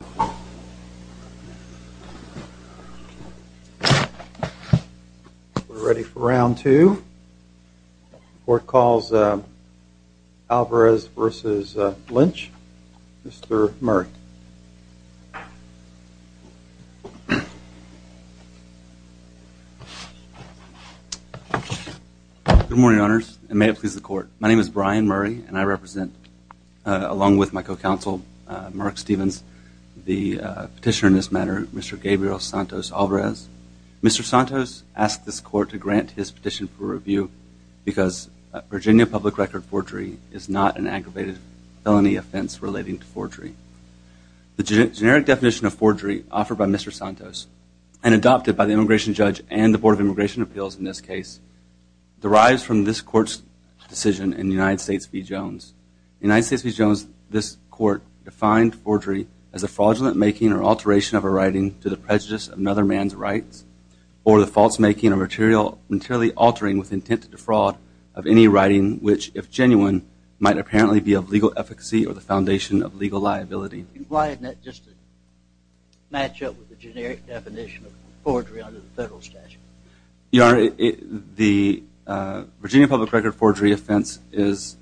We are ready for round two. The court calls Alvarez v. Lynch, Mr. Murray. Good morning owners and may it please the court. My name is Brian Murray and I represent, along with my co-counsel Mark Stevens, the petitioner in this matter, Mr. Gabriel Santos Alvarez. Mr. Santos asked this court to grant his petition for review because Virginia public record forgery is not an aggravated felony offense relating to forgery. The generic definition of forgery offered by Mr. Santos and adopted by the immigration judge and the Board of Immigration Appeals in this case derives from this court's decision in United States v. Jones, this court defined forgery as the fraudulent making or alteration of a writing to the prejudice of another man's rights or the false making or material altering with intent to defraud of any writing which, if genuine, might apparently be of legal efficacy or the foundation of legal liability. Why didn't that just match up with the generic definition of forgery under the federal statute? Your Honor, the Virginia public record forgery offense is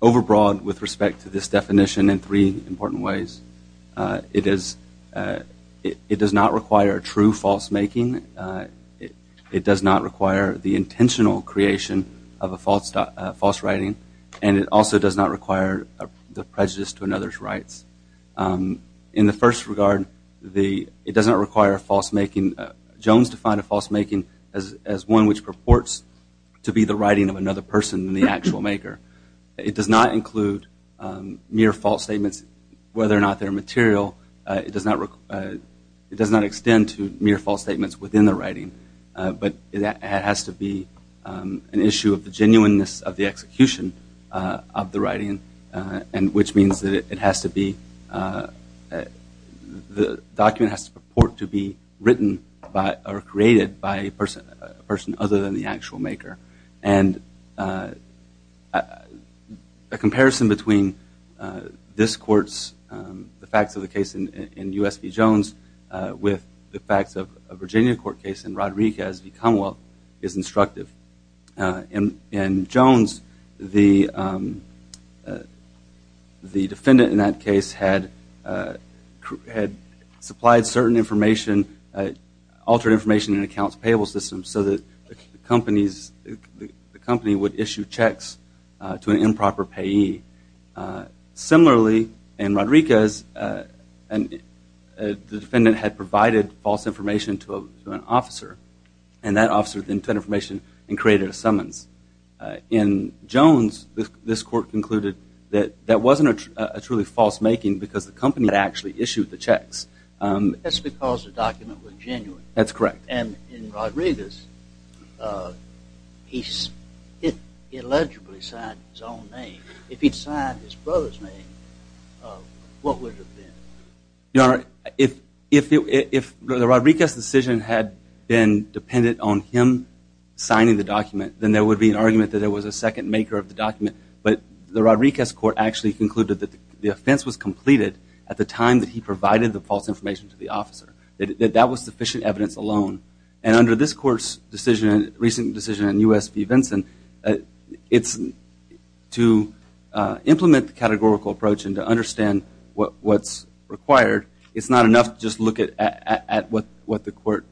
over broad with respect to this definition in three important ways. It does not require true false making. It does not require the intentional creation of a false writing and it also does not require the prejudice to another's rights. In the first regard, it does not require false making. Jones defined a false making as one which purports to be the writing of another person than the actual maker. It does not include mere false statements whether or not they're material. It does not extend to mere false statements within the writing but it has to be an issue of the genuineness of the execution of the writing and which means that it has to be, the document has to purport to be written or created by a person other than the actual maker. And a comparison between this court's, the facts of the case in U.S. v. Jones with the facts of a Virginia court case in Rodericka as v. Commonwealth is instructive. In Jones, the defendant in that case had supplied certain information, altered information in an accounts payable system so that the company would issue checks to an improper payee. Similarly, in Rodericka's, the defendant had provided false information to an officer and that officer then took that information and created a summons. In Jones, this court concluded that that wasn't a truly false making because the company had actually correct. And in Rodericka's, he allegedly signed his own name. If he'd signed his brother's name, what would it have been? Your Honor, if Rodericka's decision had been dependent on him signing the document then there would be an argument that there was a second maker of the document but the Rodericka's court actually concluded that the offense was completed at the time that he sufficient evidence alone. And under this court's decision, recent decision in U.S. v. Vinson, it's to implement the categorical approach and to understand what's required. It's not enough to just look at what the court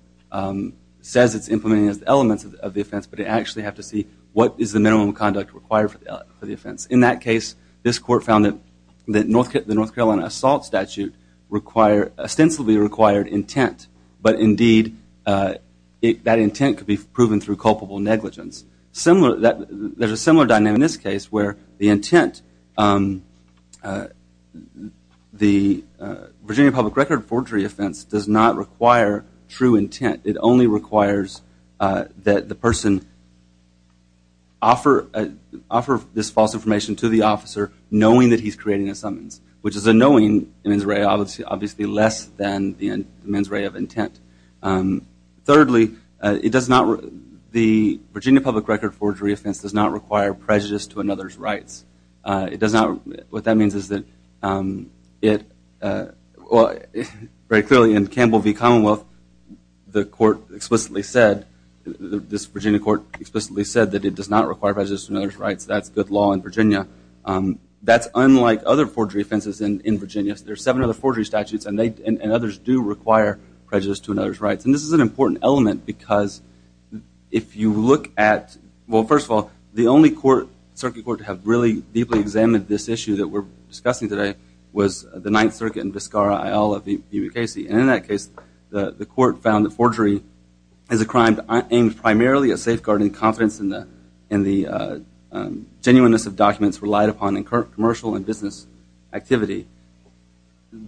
says it's implementing as the elements of the offense, but to actually have to see what is the minimum conduct required for the offense. In that case, this court found that the North Carolina assault statute required, ostensibly required intent but indeed that intent could be proven through culpable negligence. There's a similar dynamic in this case where the intent, the Virginia public record forgery offense does not require true intent. It only requires that the person offer this false information to the officer knowing that he's creating a summons, which is a knowing mens rea obviously less than the mens rea of intent. Thirdly, it does not, the Virginia public record forgery offense does not require prejudice to another's rights. It does not, what that means is that it, very clearly in Campbell v. Commonwealth, the court explicitly said, this Virginia court explicitly said that it does not require prejudice to another's rights. That's good law in Virginia. That's unlike other forgery statutes and others do require prejudice to another's rights. And this is an important element because if you look at, well first of all, the only court, circuit court to have really deeply examined this issue that we're discussing today was the Ninth Circuit in Viscara, Iowa of E.B. Casey. And in that case, the court found that forgery is a crime aimed primarily at safeguarding confidence in the genuineness of documents relied upon in commercial and business activity.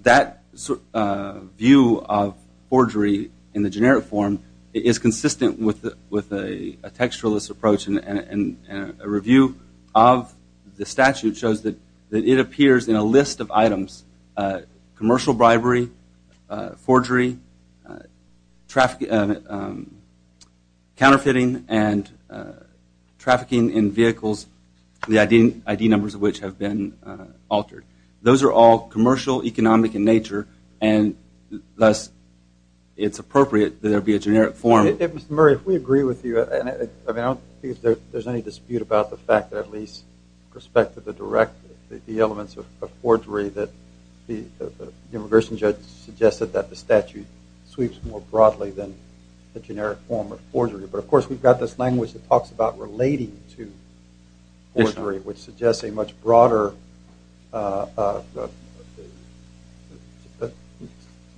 That view of forgery in the generic form is consistent with a textualist approach and a review of the statute shows that it appears in a list of items, commercial bribery, forgery, counterfeiting, and commercial, economic in nature, and thus it's appropriate that there be a generic form. If Mr. Murray, if we agree with you, and I don't think there's any dispute about the fact that at least with respect to the direct, the elements of forgery that the immigration judge suggested that the statute sweeps more broadly than the generic form of forgery. But of course, we've got this language that talks about relating to forgery, which suggests a much broader you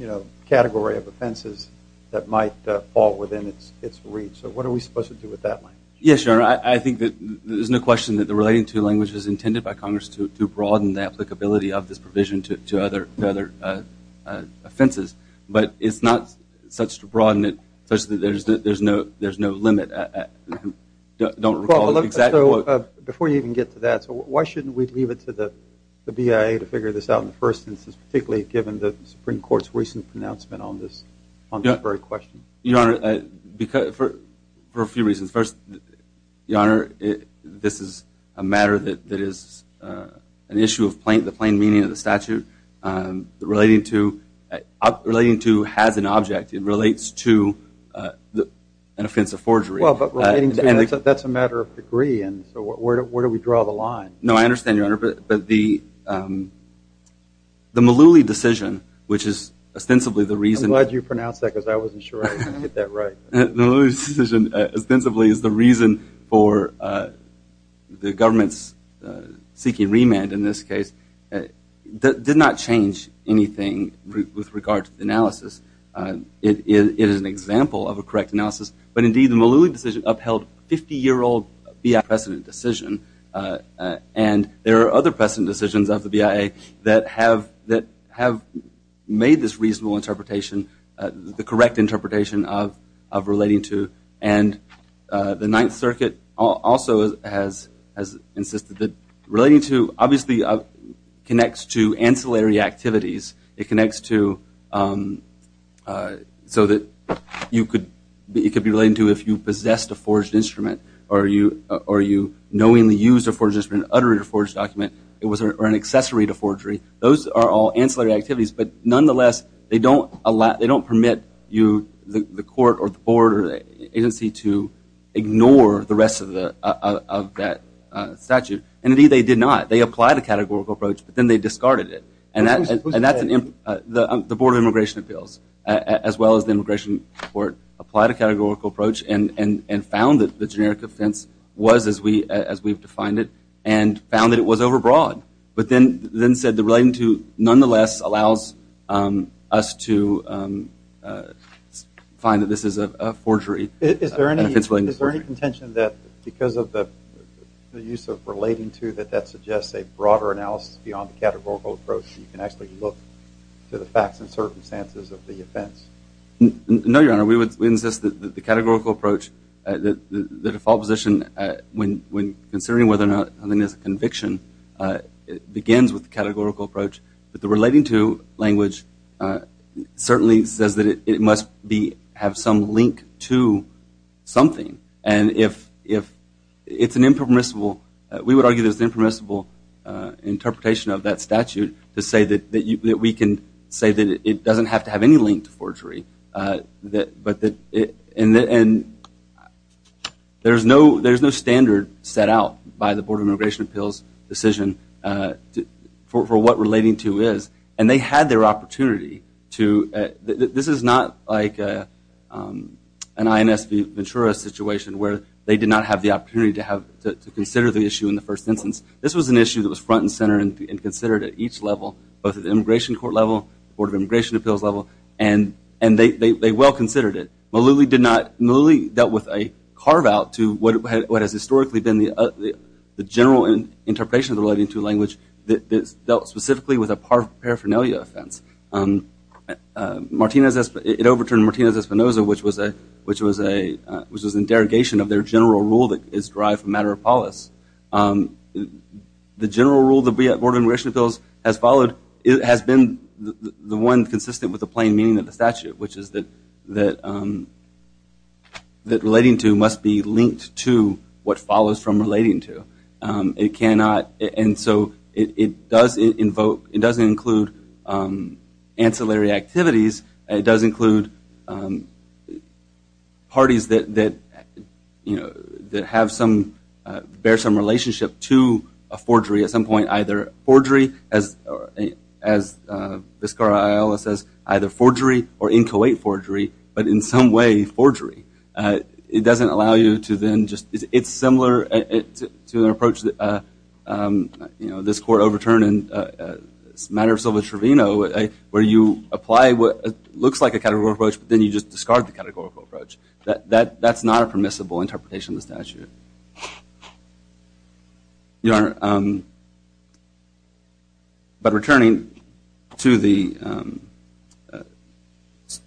know, category of offenses that might fall within its reach. So what are we supposed to do with that language? Yes, Your Honor, I think that there's no question that the relating to language is intended by Congress to broaden the applicability of this provision to other offenses, but it's not such to broaden it such that there's no limit. Don't recall the exact quote. Before you even get to that, why shouldn't we leave it to the BIA to figure this out in the first instance, particularly given the Supreme Court's recent pronouncement on this very question? Your Honor, for a few reasons. First, Your Honor, this is a matter that is an issue of the plain meaning of the statute. Relating to has an object, it relates to an offense of forgery. Well, but relating to, that's a matter of degree, and so where do we draw the line? No, I understand, Your Honor, but the Malooly decision, which is ostensibly the reason. I'm glad you pronounced that because I wasn't sure I was going to get that right. Malooly decision ostensibly is the reason for the government's seeking remand in this case. That did not change anything with regard to the analysis. It is an example of a correct analysis, but indeed the Malooly decision upheld 50-year-old BIA precedent decision, and there are other precedent decisions of the BIA that have made this reasonable interpretation, the correct interpretation of relating to, and the Ninth Circuit also has insisted that relating to obviously connects to ancillary activities. It connects to so that it could be relating to if you possessed a forged instrument or you knowingly used a forged instrument, uttered a forged document, or an accessory to forgery. Those are all ancillary activities, but nonetheless, they don't permit the court or the board or the agency to ignore the rest of that statute, and indeed they did not. They applied a categorical approach, but then they discarded it, and that's the Board of Immigration Appeals as well as the Immigration Court applied a categorical approach and found that the generic offense was as we've defined it, and found that it was overbroad, but then said the relating to nonetheless allows us to find that this is a forgery. Is there any contention that because of the use of relating to that that suggests a broader analysis beyond the categorical approach, you can actually look to the facts and circumstances of the offense? No, Your Honor. We would insist that the categorical approach, the default position, when considering whether or not something is a conviction, it begins with the categorical approach, but the relating to language certainly says that it must have some link to something, and if it's an impermissible, we would argue there's an impermissible interpretation of that statute to say that we can say that it doesn't have to have any link to forgery, and there's no standard set out by the Board of Immigration Appeals decision for what relating to is, and they had their opportunity to, this is not like an INS Ventura situation where they did not have the opportunity to consider the issue in the first instance. This was an issue that was front and center and considered at each level, both at the Immigration Court level, Board of Immigration Appeals level, and they well considered it. Malouli dealt with a carve out to what has historically been the general interpretation of the relating to language that dealt specifically with a paraphernalia offense. It overturned Martinez-Espinosa, which was a derogation of their general rule that is derived from matter of polis. The general rule that the Board of Immigration Appeals has followed has been the one consistent with the plain meaning of the statute, which is that relating to must be linked to what follows from relating to. It cannot, and so it does invoke, it doesn't include ancillary activities. It does include parties that, you know, that have some, bear some relationship to a forgery at some point, either forgery as Vizcarra Ayala says, either forgery or in Kuwait forgery, but in some way it's similar to an approach that, you know, this court overturned in the matter of Silva-Trevino, where you apply what looks like a categorical approach, but then you just discard the categorical approach. That's not a permissible interpretation of the statute. Your Honor, but returning to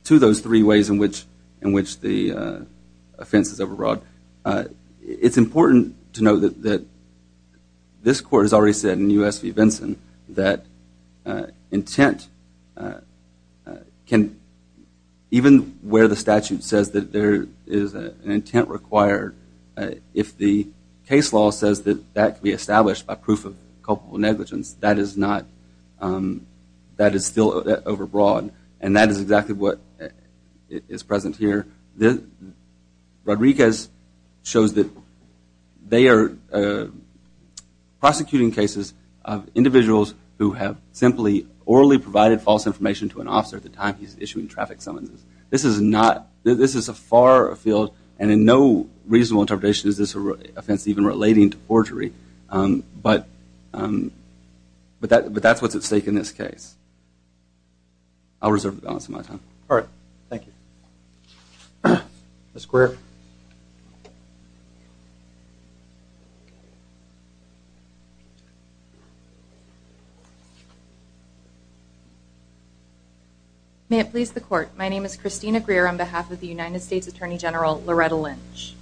those three ways in which the offense is overwrought, it's important to note that this court has already said in U.S. v. Vinson that intent cannot, even where the statute says that there is an intent required, if the case law says that that can be established by proof of culpable negligence, that is not, that is still overwrought, and that is exactly what is present here. Rodriguez shows that they are prosecuting cases of individuals who have simply orally provided false information to an officer at the time he's issuing traffic summonses. This is not, this is a far field and in no reasonable interpretation is this offense even relating to forgery, but that's what's at stake in this case. I'll reserve the balance of my time. All right, thank you. Ms. Greer. May it please the court, my name is Christina Greer on behalf of the United States Attorney General Loretta Lynch.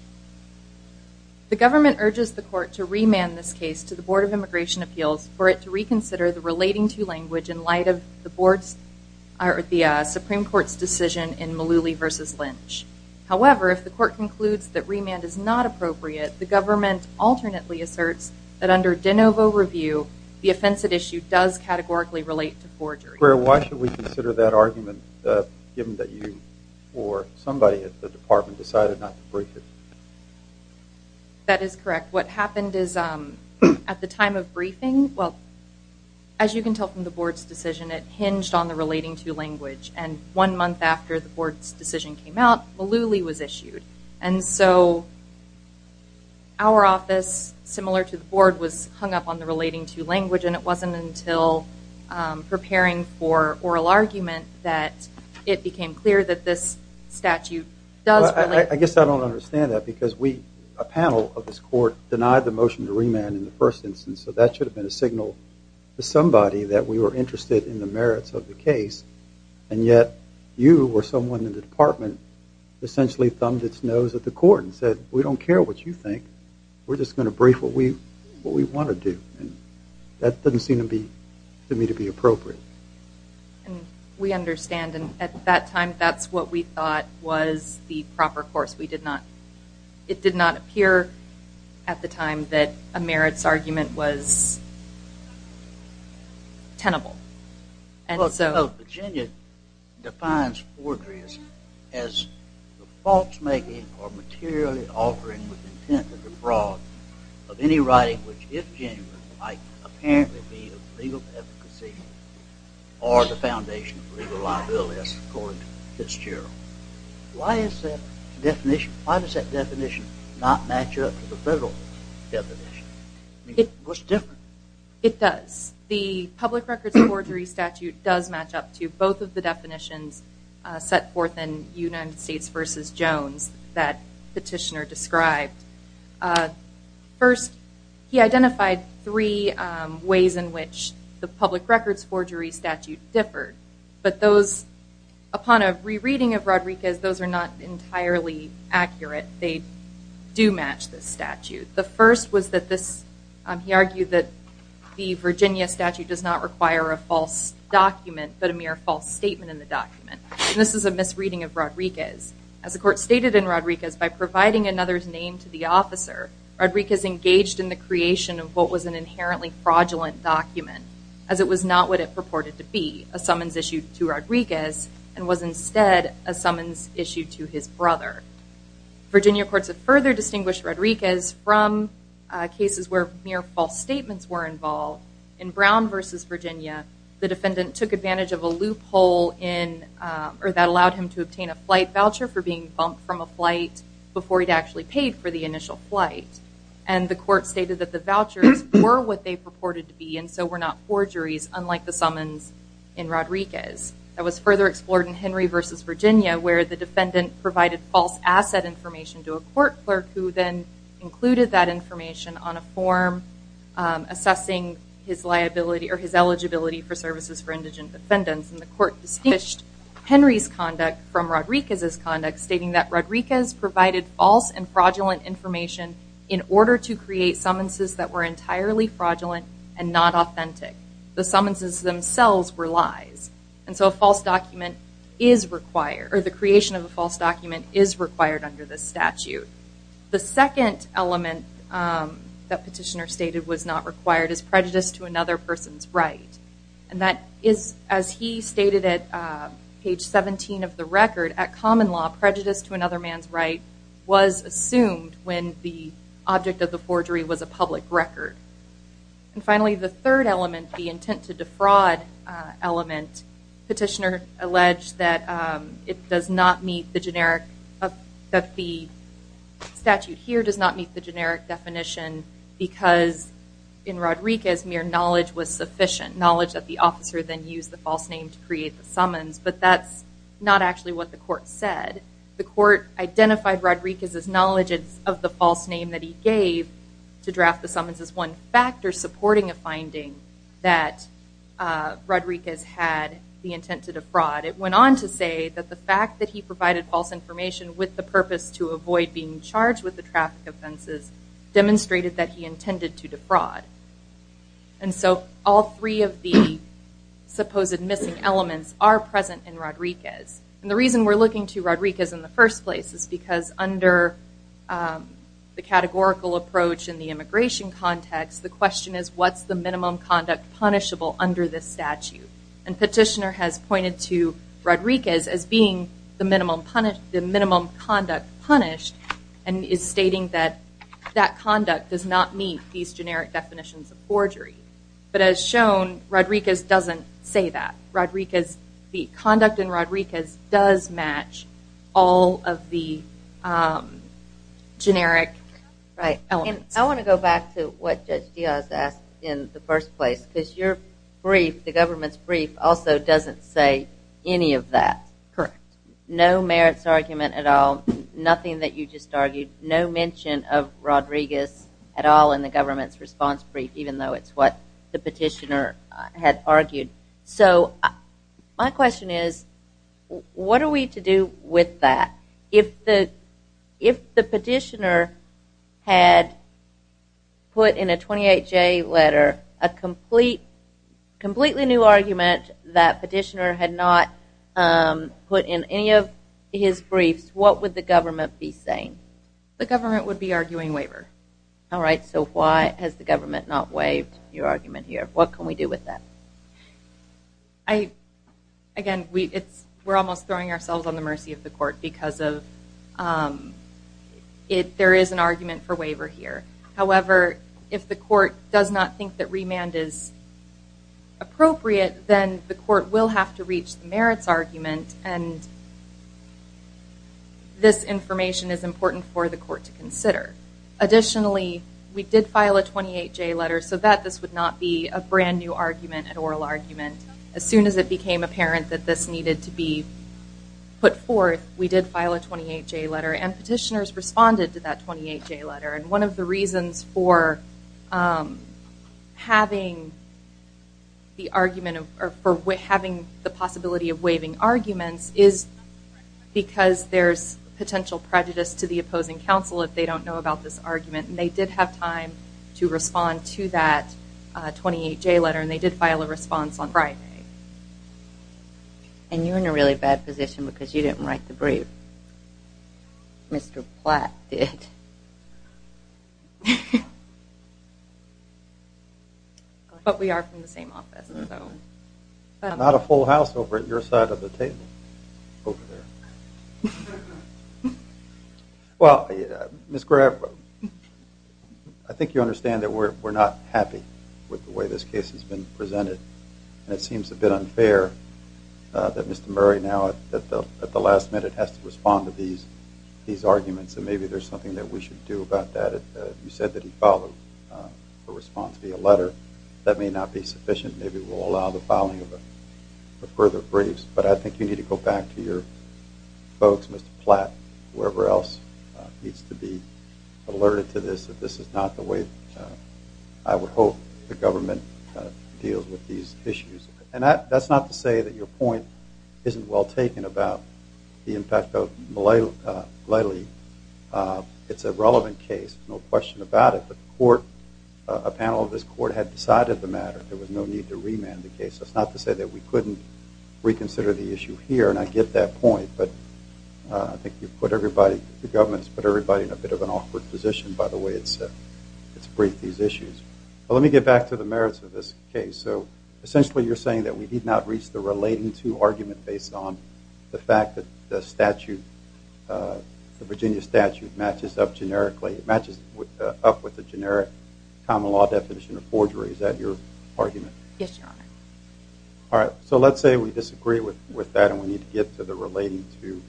The government urges the court to remand this case to the Board of Immigration Appeals for it to reconsider the relating to language in light of the Supreme Court's decision in Malooly v. Lynch. However, if the court concludes that remand is not appropriate, the government alternately asserts that under de novo review, the offensive issue does categorically relate to forgery. Greer, why should we consider that argument given that you or somebody at the department decided not to brief it? That is correct. What happened is at the time of briefing, well, as you can tell from the month after the board's decision came out, Malooly was issued and so our office, similar to the board, was hung up on the relating to language and it wasn't until preparing for oral argument that it became clear that this statute does relate. I guess I don't understand that because we, a panel of this court, denied the motion to remand in the first instance, so that should have been a signal to somebody that we were interested in the merits of the case and yet you or someone in the department essentially thumbed its nose at the court and said we don't care what you think, we're just going to brief what we what we want to do and that doesn't seem to be to me to be appropriate. And we understand and at that time that's what we thought was the proper course. We did not, it did not appear at the time that a merits argument was tenable. Virginia defines forgery as the false making or materially altering with intent of the broad of any writing which, if genuine, might apparently be of legal efficacy or the foundation of legal liabilities according to Fitzgerald. Why is that definition, why does that definition not match up to the federal definition? What's different? It does. The public records forgery statute does match up to both of the definitions set forth in United States versus Jones that petitioner described. First, he identified three ways in which the public records forgery statute differed but those, upon a rereading of Rodriguez, those are not entirely accurate. They do match this statute. The first was that this, he argued that the Virginia statute does not require a false document but a mere false statement in the document. This is a misreading of Rodriguez. As the court stated in Rodriguez, by providing another's name to the officer, Rodriguez engaged in the creation of what was an inherently fraudulent document as it was not what it purported to be, a summons issued to Rodriguez and was instead a summons issued to his brother. Virginia courts have further distinguished Rodriguez from cases where mere false statements were involved. In Brown versus Virginia, the defendant took advantage of a loophole in or that allowed him to obtain a flight voucher for being bumped from a flight before he'd actually paid for the initial flight. And the court stated that the vouchers were what they purported to be and so were not forgeries unlike the summons in Rodriguez. That was further explored in Henry versus Virginia where the defendant provided false asset information to a court clerk who then included that information on a form assessing his liability or his eligibility for services for indigent defendants. And the court distinguished Henry's conduct from Rodriguez's conduct stating that Rodriguez provided false and fraudulent information in order to create summonses that were entirely fraudulent and not authentic. The summonses themselves were lies. And so a false document is required or the creation of a false document is required under this statute. The second element that petitioner stated was not required is prejudice to another person's right. And that is as he stated at page 17 of the record, at common law prejudice to another man's right was assumed when the object of the forgery was a public record. And finally, the third element, the intent to defraud element, petitioner alleged that it does not meet the generic, that the statute here does not meet the generic definition because in Rodriguez mere knowledge was sufficient. Knowledge that the officer then used the false name to create the summons. But that's not actually what the court said. The court identified Rodriguez's knowledge of the false name that he gave to draft the summons as one factor supporting a finding that Rodriguez had the intent to defraud. It went on to say that the fact that he provided false information with the purpose to avoid being charged with the traffic offenses demonstrated that he intended to defraud. And so all three of the missing elements are present in Rodriguez. And the reason we're looking to Rodriguez in the first place is because under the categorical approach in the immigration context, the question is what's the minimum conduct punishable under this statute? And petitioner has pointed to Rodriguez as being the minimum conduct punished and is stating that that conduct does not meet these generic elements. The conduct in Rodriguez does match all of the generic elements. I want to go back to what Judge Diaz asked in the first place because your brief, the government's brief also doesn't say any of that. Correct. No merits argument at all, nothing that you just argued, no mention of Rodriguez at all in the government's response brief even though it's what the petitioner had argued. So my question is, what are we to do with that? If the petitioner had put in a 28J letter a completely new argument that petitioner had not put in any of his briefs, what would the government be saying? The government would be arguing waiver. All right, so why has the government not waived your argument here? What can we do with that? Again, we're almost throwing ourselves on the mercy of the court because there is an argument for waiver here. However, if the court does not think that remand is appropriate, then the court will have to reach the merits argument and this information is important for the court to consider. Additionally, we did file a 28J letter so that this would not be a brand new argument, an oral argument. As soon as it became apparent that this needed to be put forth, we did file a 28J letter and petitioners responded to that 28J letter. And one of the reasons for having the argument or for having the possibility of waiving arguments is because there's potential prejudice to the argument and they did have time to respond to that 28J letter and they did file a response on Friday. And you're in a really bad position because you didn't write the brief. Mr. Platt did. But we are from the same office. Not a full house over at your side of the table over there. Well, Ms. Graff, I think you understand that we're not happy with the way this case has been presented and it seems a bit unfair that Mr. Murray now at the last minute has to respond to these arguments and maybe there's something that we should do about that. You said that he filed a response via letter. That may not be sufficient. Maybe we'll allow the filing of further briefs, but I think you need to go back to your folks, Mr. Platt, whoever else needs to be alerted to this, that this is not the way I would hope the government deals with these issues. And that's not to say that your point isn't well taken about the impact of Lely. It's a relevant case, no question about it, but a panel of this court had decided the matter. There was no need to consider the issue here and I get that point, but I think the government's put everybody in a bit of an awkward position by the way it's briefed these issues. But let me get back to the merits of this case. So essentially you're saying that we did not reach the relating to argument based on the fact that the Virginia statute matches up with the generic common law definition of forgery. Is that correct? I agree with that and we need to get to the relating to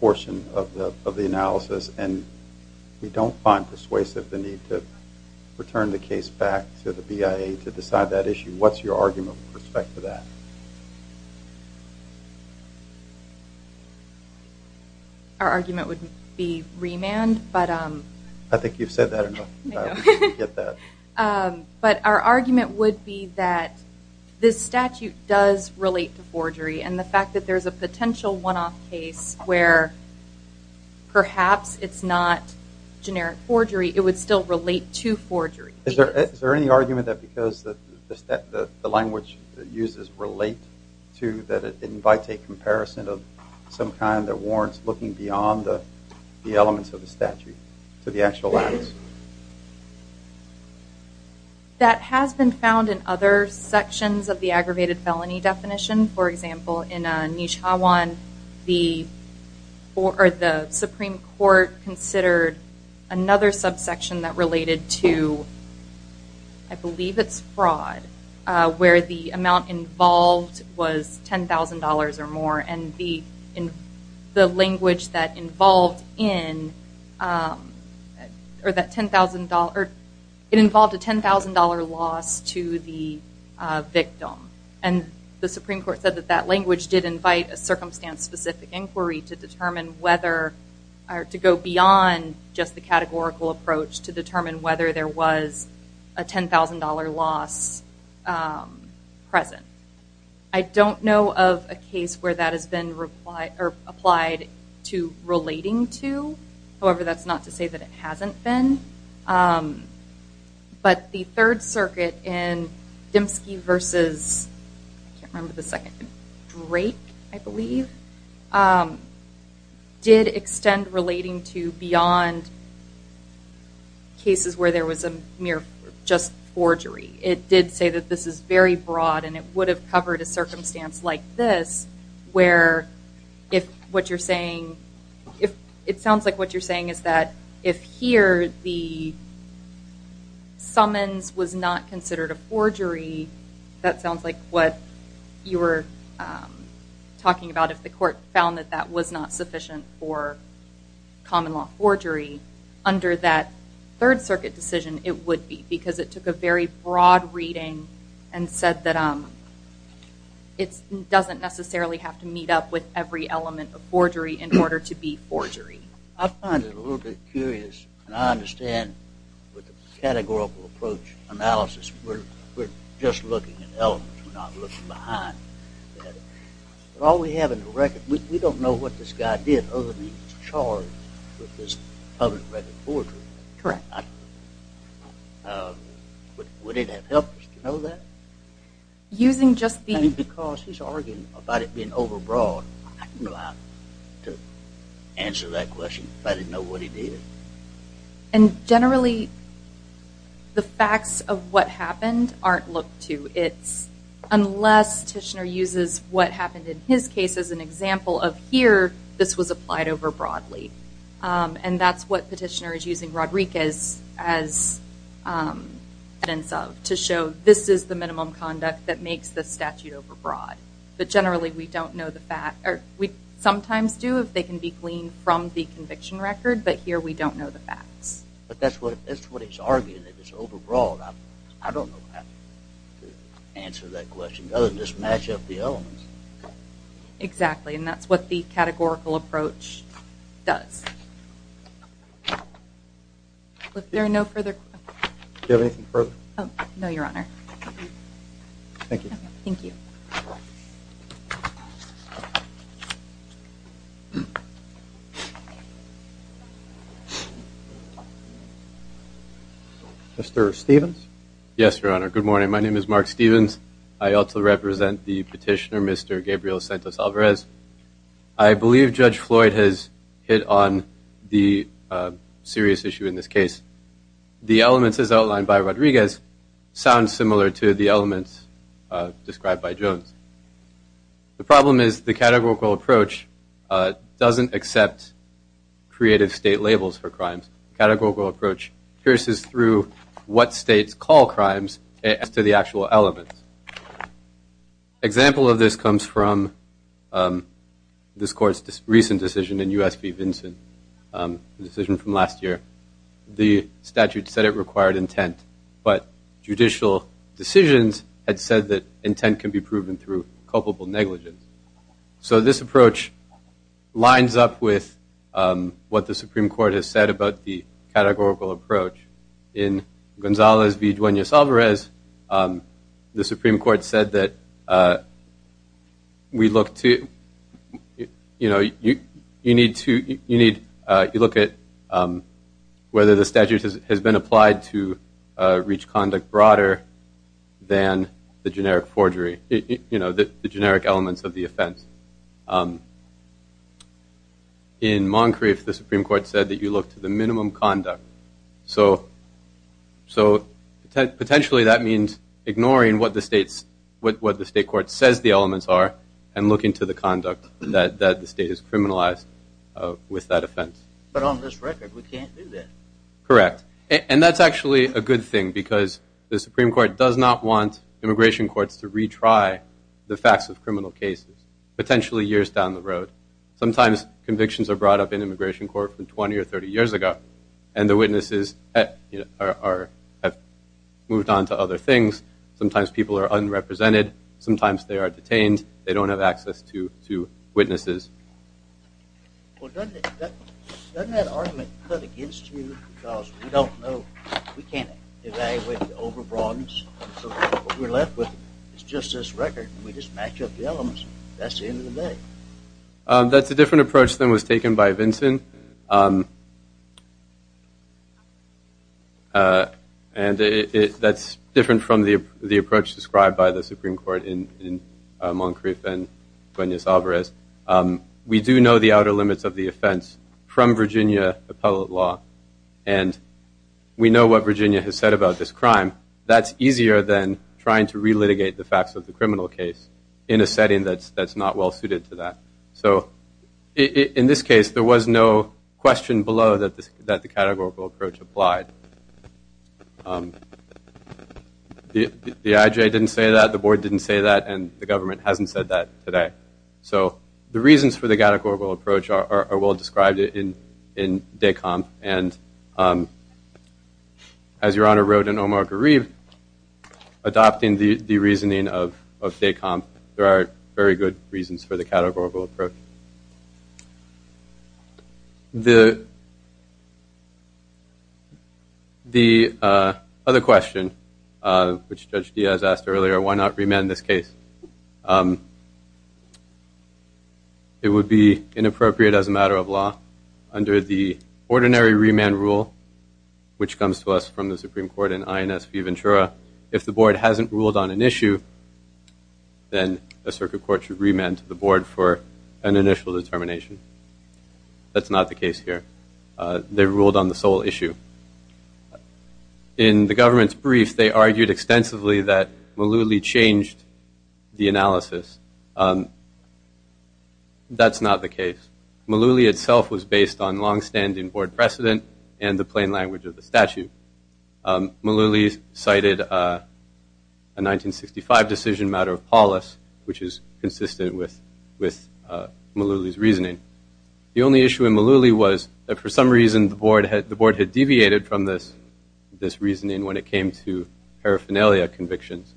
portion of the analysis and we don't find persuasive the need to return the case back to the BIA to decide that issue. What's your argument with respect to that? Our argument would be remand, but I think you've said that before. But our argument would be that this statute does relate to forgery and the fact that there's a potential one-off case where perhaps it's not generic forgery, it would still relate to forgery. Is there any argument that because the language uses relate to that it invites a comparison of some kind that warrants looking beyond the elements of the statute to the actual evidence? That has been found in other sections of the aggravated felony definition. For example, in Nijhawan the Supreme Court considered another subsection that related to I believe it's fraud where the amount involved was $10,000 or more and the language that involved in that $10,000 or it involved a $10,000 loss to the victim and the Supreme Court said that that language did invite a circumstance specific inquiry to determine whether or to go beyond just the categorical approach to determine whether there was a $10,000 loss present. I don't know of a case where that has been replied or applied to relating to. However, that's not to say that it hasn't been. But the Third Circuit in Dimsky versus I can't remember the second, Drake I believe, did extend relating to beyond cases where there was a mere just forgery. It did say that this is very broad and it would have covered a circumstance like this where if what you're saying if it sounds like what you're saying is that if here the summons was not considered a forgery that sounds like what you were talking about if the court found that that was not sufficient for common law forgery under that Third Circuit decision it would be because it took a very broad reading and said that it doesn't necessarily have to meet up with every element of forgery in order to be forgery. I find it a little bit curious and I understand with the categorical approach analysis we're just looking at elements we're not looking behind. But all we have in the record we don't know what this guy did other than he was charged with this public record forgery. Correct. Would it have helped us to know that? Using just the... I mean because he's arguing about it being overbroad I'm not allowed to answer that question if I didn't know what he did. And generally the facts of what happened aren't looked to. It's unless Tishner uses what happened in his case as an example of here this was applied over broadly and that's what petitioner is using Rodriguez as evidence of to show this is the minimum conduct that makes the statute overbroad. But generally we don't know the fact or we sometimes do if they can be gleaned from the conviction record but here we don't know the facts. But that's what that's what he's arguing that it's overbroad. I don't know how to answer that question other than just match up the elements. Exactly and that's what the categorical approach does. If there are no further questions. Do you have anything further? Oh no your honor. Thank you. Thank you. Mr. Stevens. Yes your honor. Good morning. My name is Mark Stevens. I also represent the petitioner Gabriel Santos Alvarez. I believe Judge Floyd has hit on the serious issue in this case. The elements as outlined by Rodriguez sound similar to the elements described by Jones. The problem is the categorical approach doesn't accept creative state labels for crimes. Categorical approach pierces through what states call crimes as to the actual elements. Example of this comes from this court's recent decision in US v. Vinson, the decision from last year. The statute said it required intent but judicial decisions had said that intent can be proven through culpable negligence. So this approach lines up with what the Supreme Court has said about the categorical approach in Gonzalez v. Duenas Alvarez. The Supreme Court said that we look to you know you need to you need you look at whether the statute has been applied to reach conduct broader than the generic forgery. You know the generic elements of the offense. In Moncrief the Supreme Court said that you look to the minimum conduct. So so potentially that means ignoring what the state's what the state court says the elements are and look into the conduct that that the state is criminalized with that offense. But on this record we can't do that. Correct and that's actually a good thing because the Supreme Court does not want immigration courts to retry the facts of criminal cases potentially years down the road. Sometimes convictions are brought up in immigration court from 20 or 30 years ago and the witnesses are have moved on to other things. Sometimes people are unrepresented. Sometimes they are detained. They don't have access to to witnesses. Well doesn't that doesn't that argument cut against you because we don't know we can't evaluate the over-broadness. So what we're left with is just this record and we just match up the elements. That's the end of the day. That's a different approach than was taken by Vinson. And it that's different from the the approach described by the Supreme Court in in Moncrief and Cuenas Alvarez. We do know the outer limits of the offense from Virginia appellate law and we know what Virginia has said about this crime. That's easier than trying to relitigate the facts of the criminal case in a setting that's that's not well suited to that. So in this case there was no question below that this that the categorical approach applied. The IJ didn't say that. The board didn't say that and the government hasn't said that today. So the reasons for the categorical approach are well described in in DECOMP and as your honor wrote in Omar Garib adopting the the reasoning of of DECOMP there are very good reasons for the categorical approach. The the uh other question uh which Judge Diaz asked earlier why not remand this case? It would be inappropriate as a matter of law under the ordinary remand rule which comes to us from the Supreme Court in INS V. Ventura. If the board hasn't ruled on an issue then the circuit court should remand to the board for an issue that is not appropriate. So the question is why not remand to the board for an initial determination? That's not the case here. They ruled on the sole issue. In the government's brief they argued extensively that Malouli changed the analysis. That's not the case. Malouli itself was based on long-standing board precedent and the plain language of the statute. Malouli cited a 1965 decision matter of Paulus which is consistent with with Malouli's reasoning. The only issue in Malouli was that for some reason the board had the board had deviated from this this reasoning when it came to paraphernalia convictions.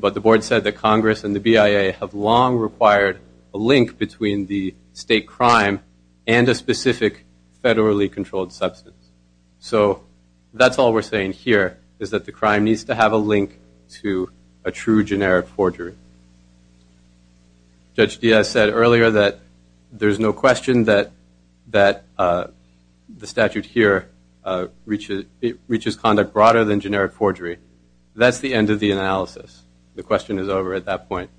But the board said that Congress and the BIA have long required a link between the state crime and a specific federally controlled substance. So that's all we're saying here is that the crime needs to have a link to a true generic forgery. Judge Diaz said earlier that there's no question that the statute here reaches conduct broader than generic forgery. That's the end of the analysis. The question is over at that point.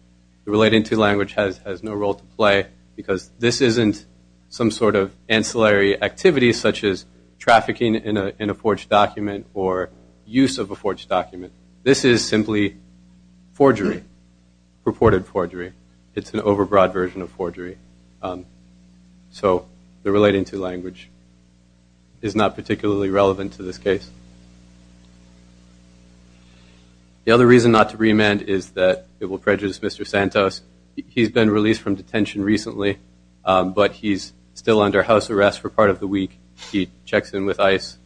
The relating to language has no role to play because this isn't some sort of ancillary activity such as trafficking in a forged document or use of a forged document. This is simply forgery, purported forgery. It's an overbroad version of forgery. So the relating to language is not particularly relevant to this case. The other reason not to remand is that it will prejudice Mr. Santos. He's been released from detention recently but he's still under house arrest for part of the week. He checks in with ICE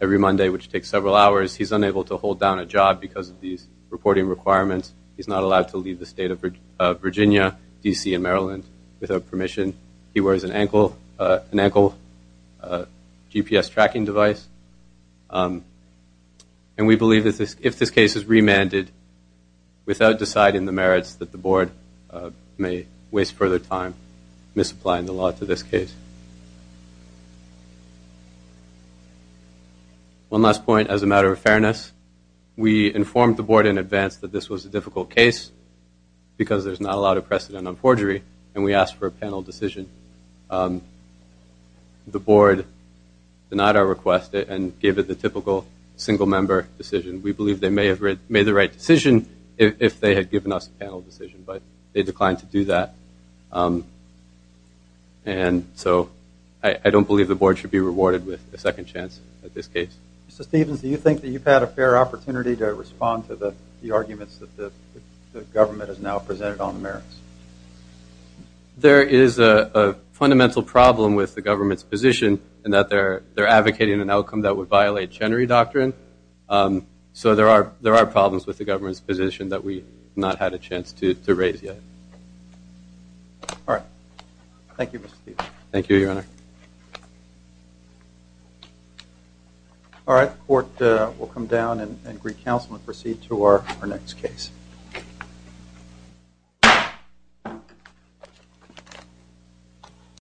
every Monday which takes several hours. He's unable to hold down a job because of these reporting requirements. He's not allowed to leave the state of Virginia, D.C. and Maryland without permission. He wears an ankle GPS tracking device. And we believe that if this case is remanded without deciding the merits that the board may waste further time misapplying the case. One last point as a matter of fairness. We informed the board in advance that this was a difficult case because there's not a lot of precedent on forgery and we asked for a panel decision. The board denied our request and gave it the typical single member decision. We believe they may have made the right decision if they had given us a panel decision but they declined to do that. And so I don't believe the board should be rewarded with a second chance at this case. Mr. Stevens, do you think that you've had a fair opportunity to respond to the arguments that the government has now presented on the merits? There is a fundamental problem with the government's position in that they're advocating an outcome that would violate Chenery Doctrine. So there are problems with the government's position that we've not had a chance to raise yet. All right. Thank you, Mr. Stevens. Thank you, Your Honor. All right. The court will come down and recounsel and proceed to our next case.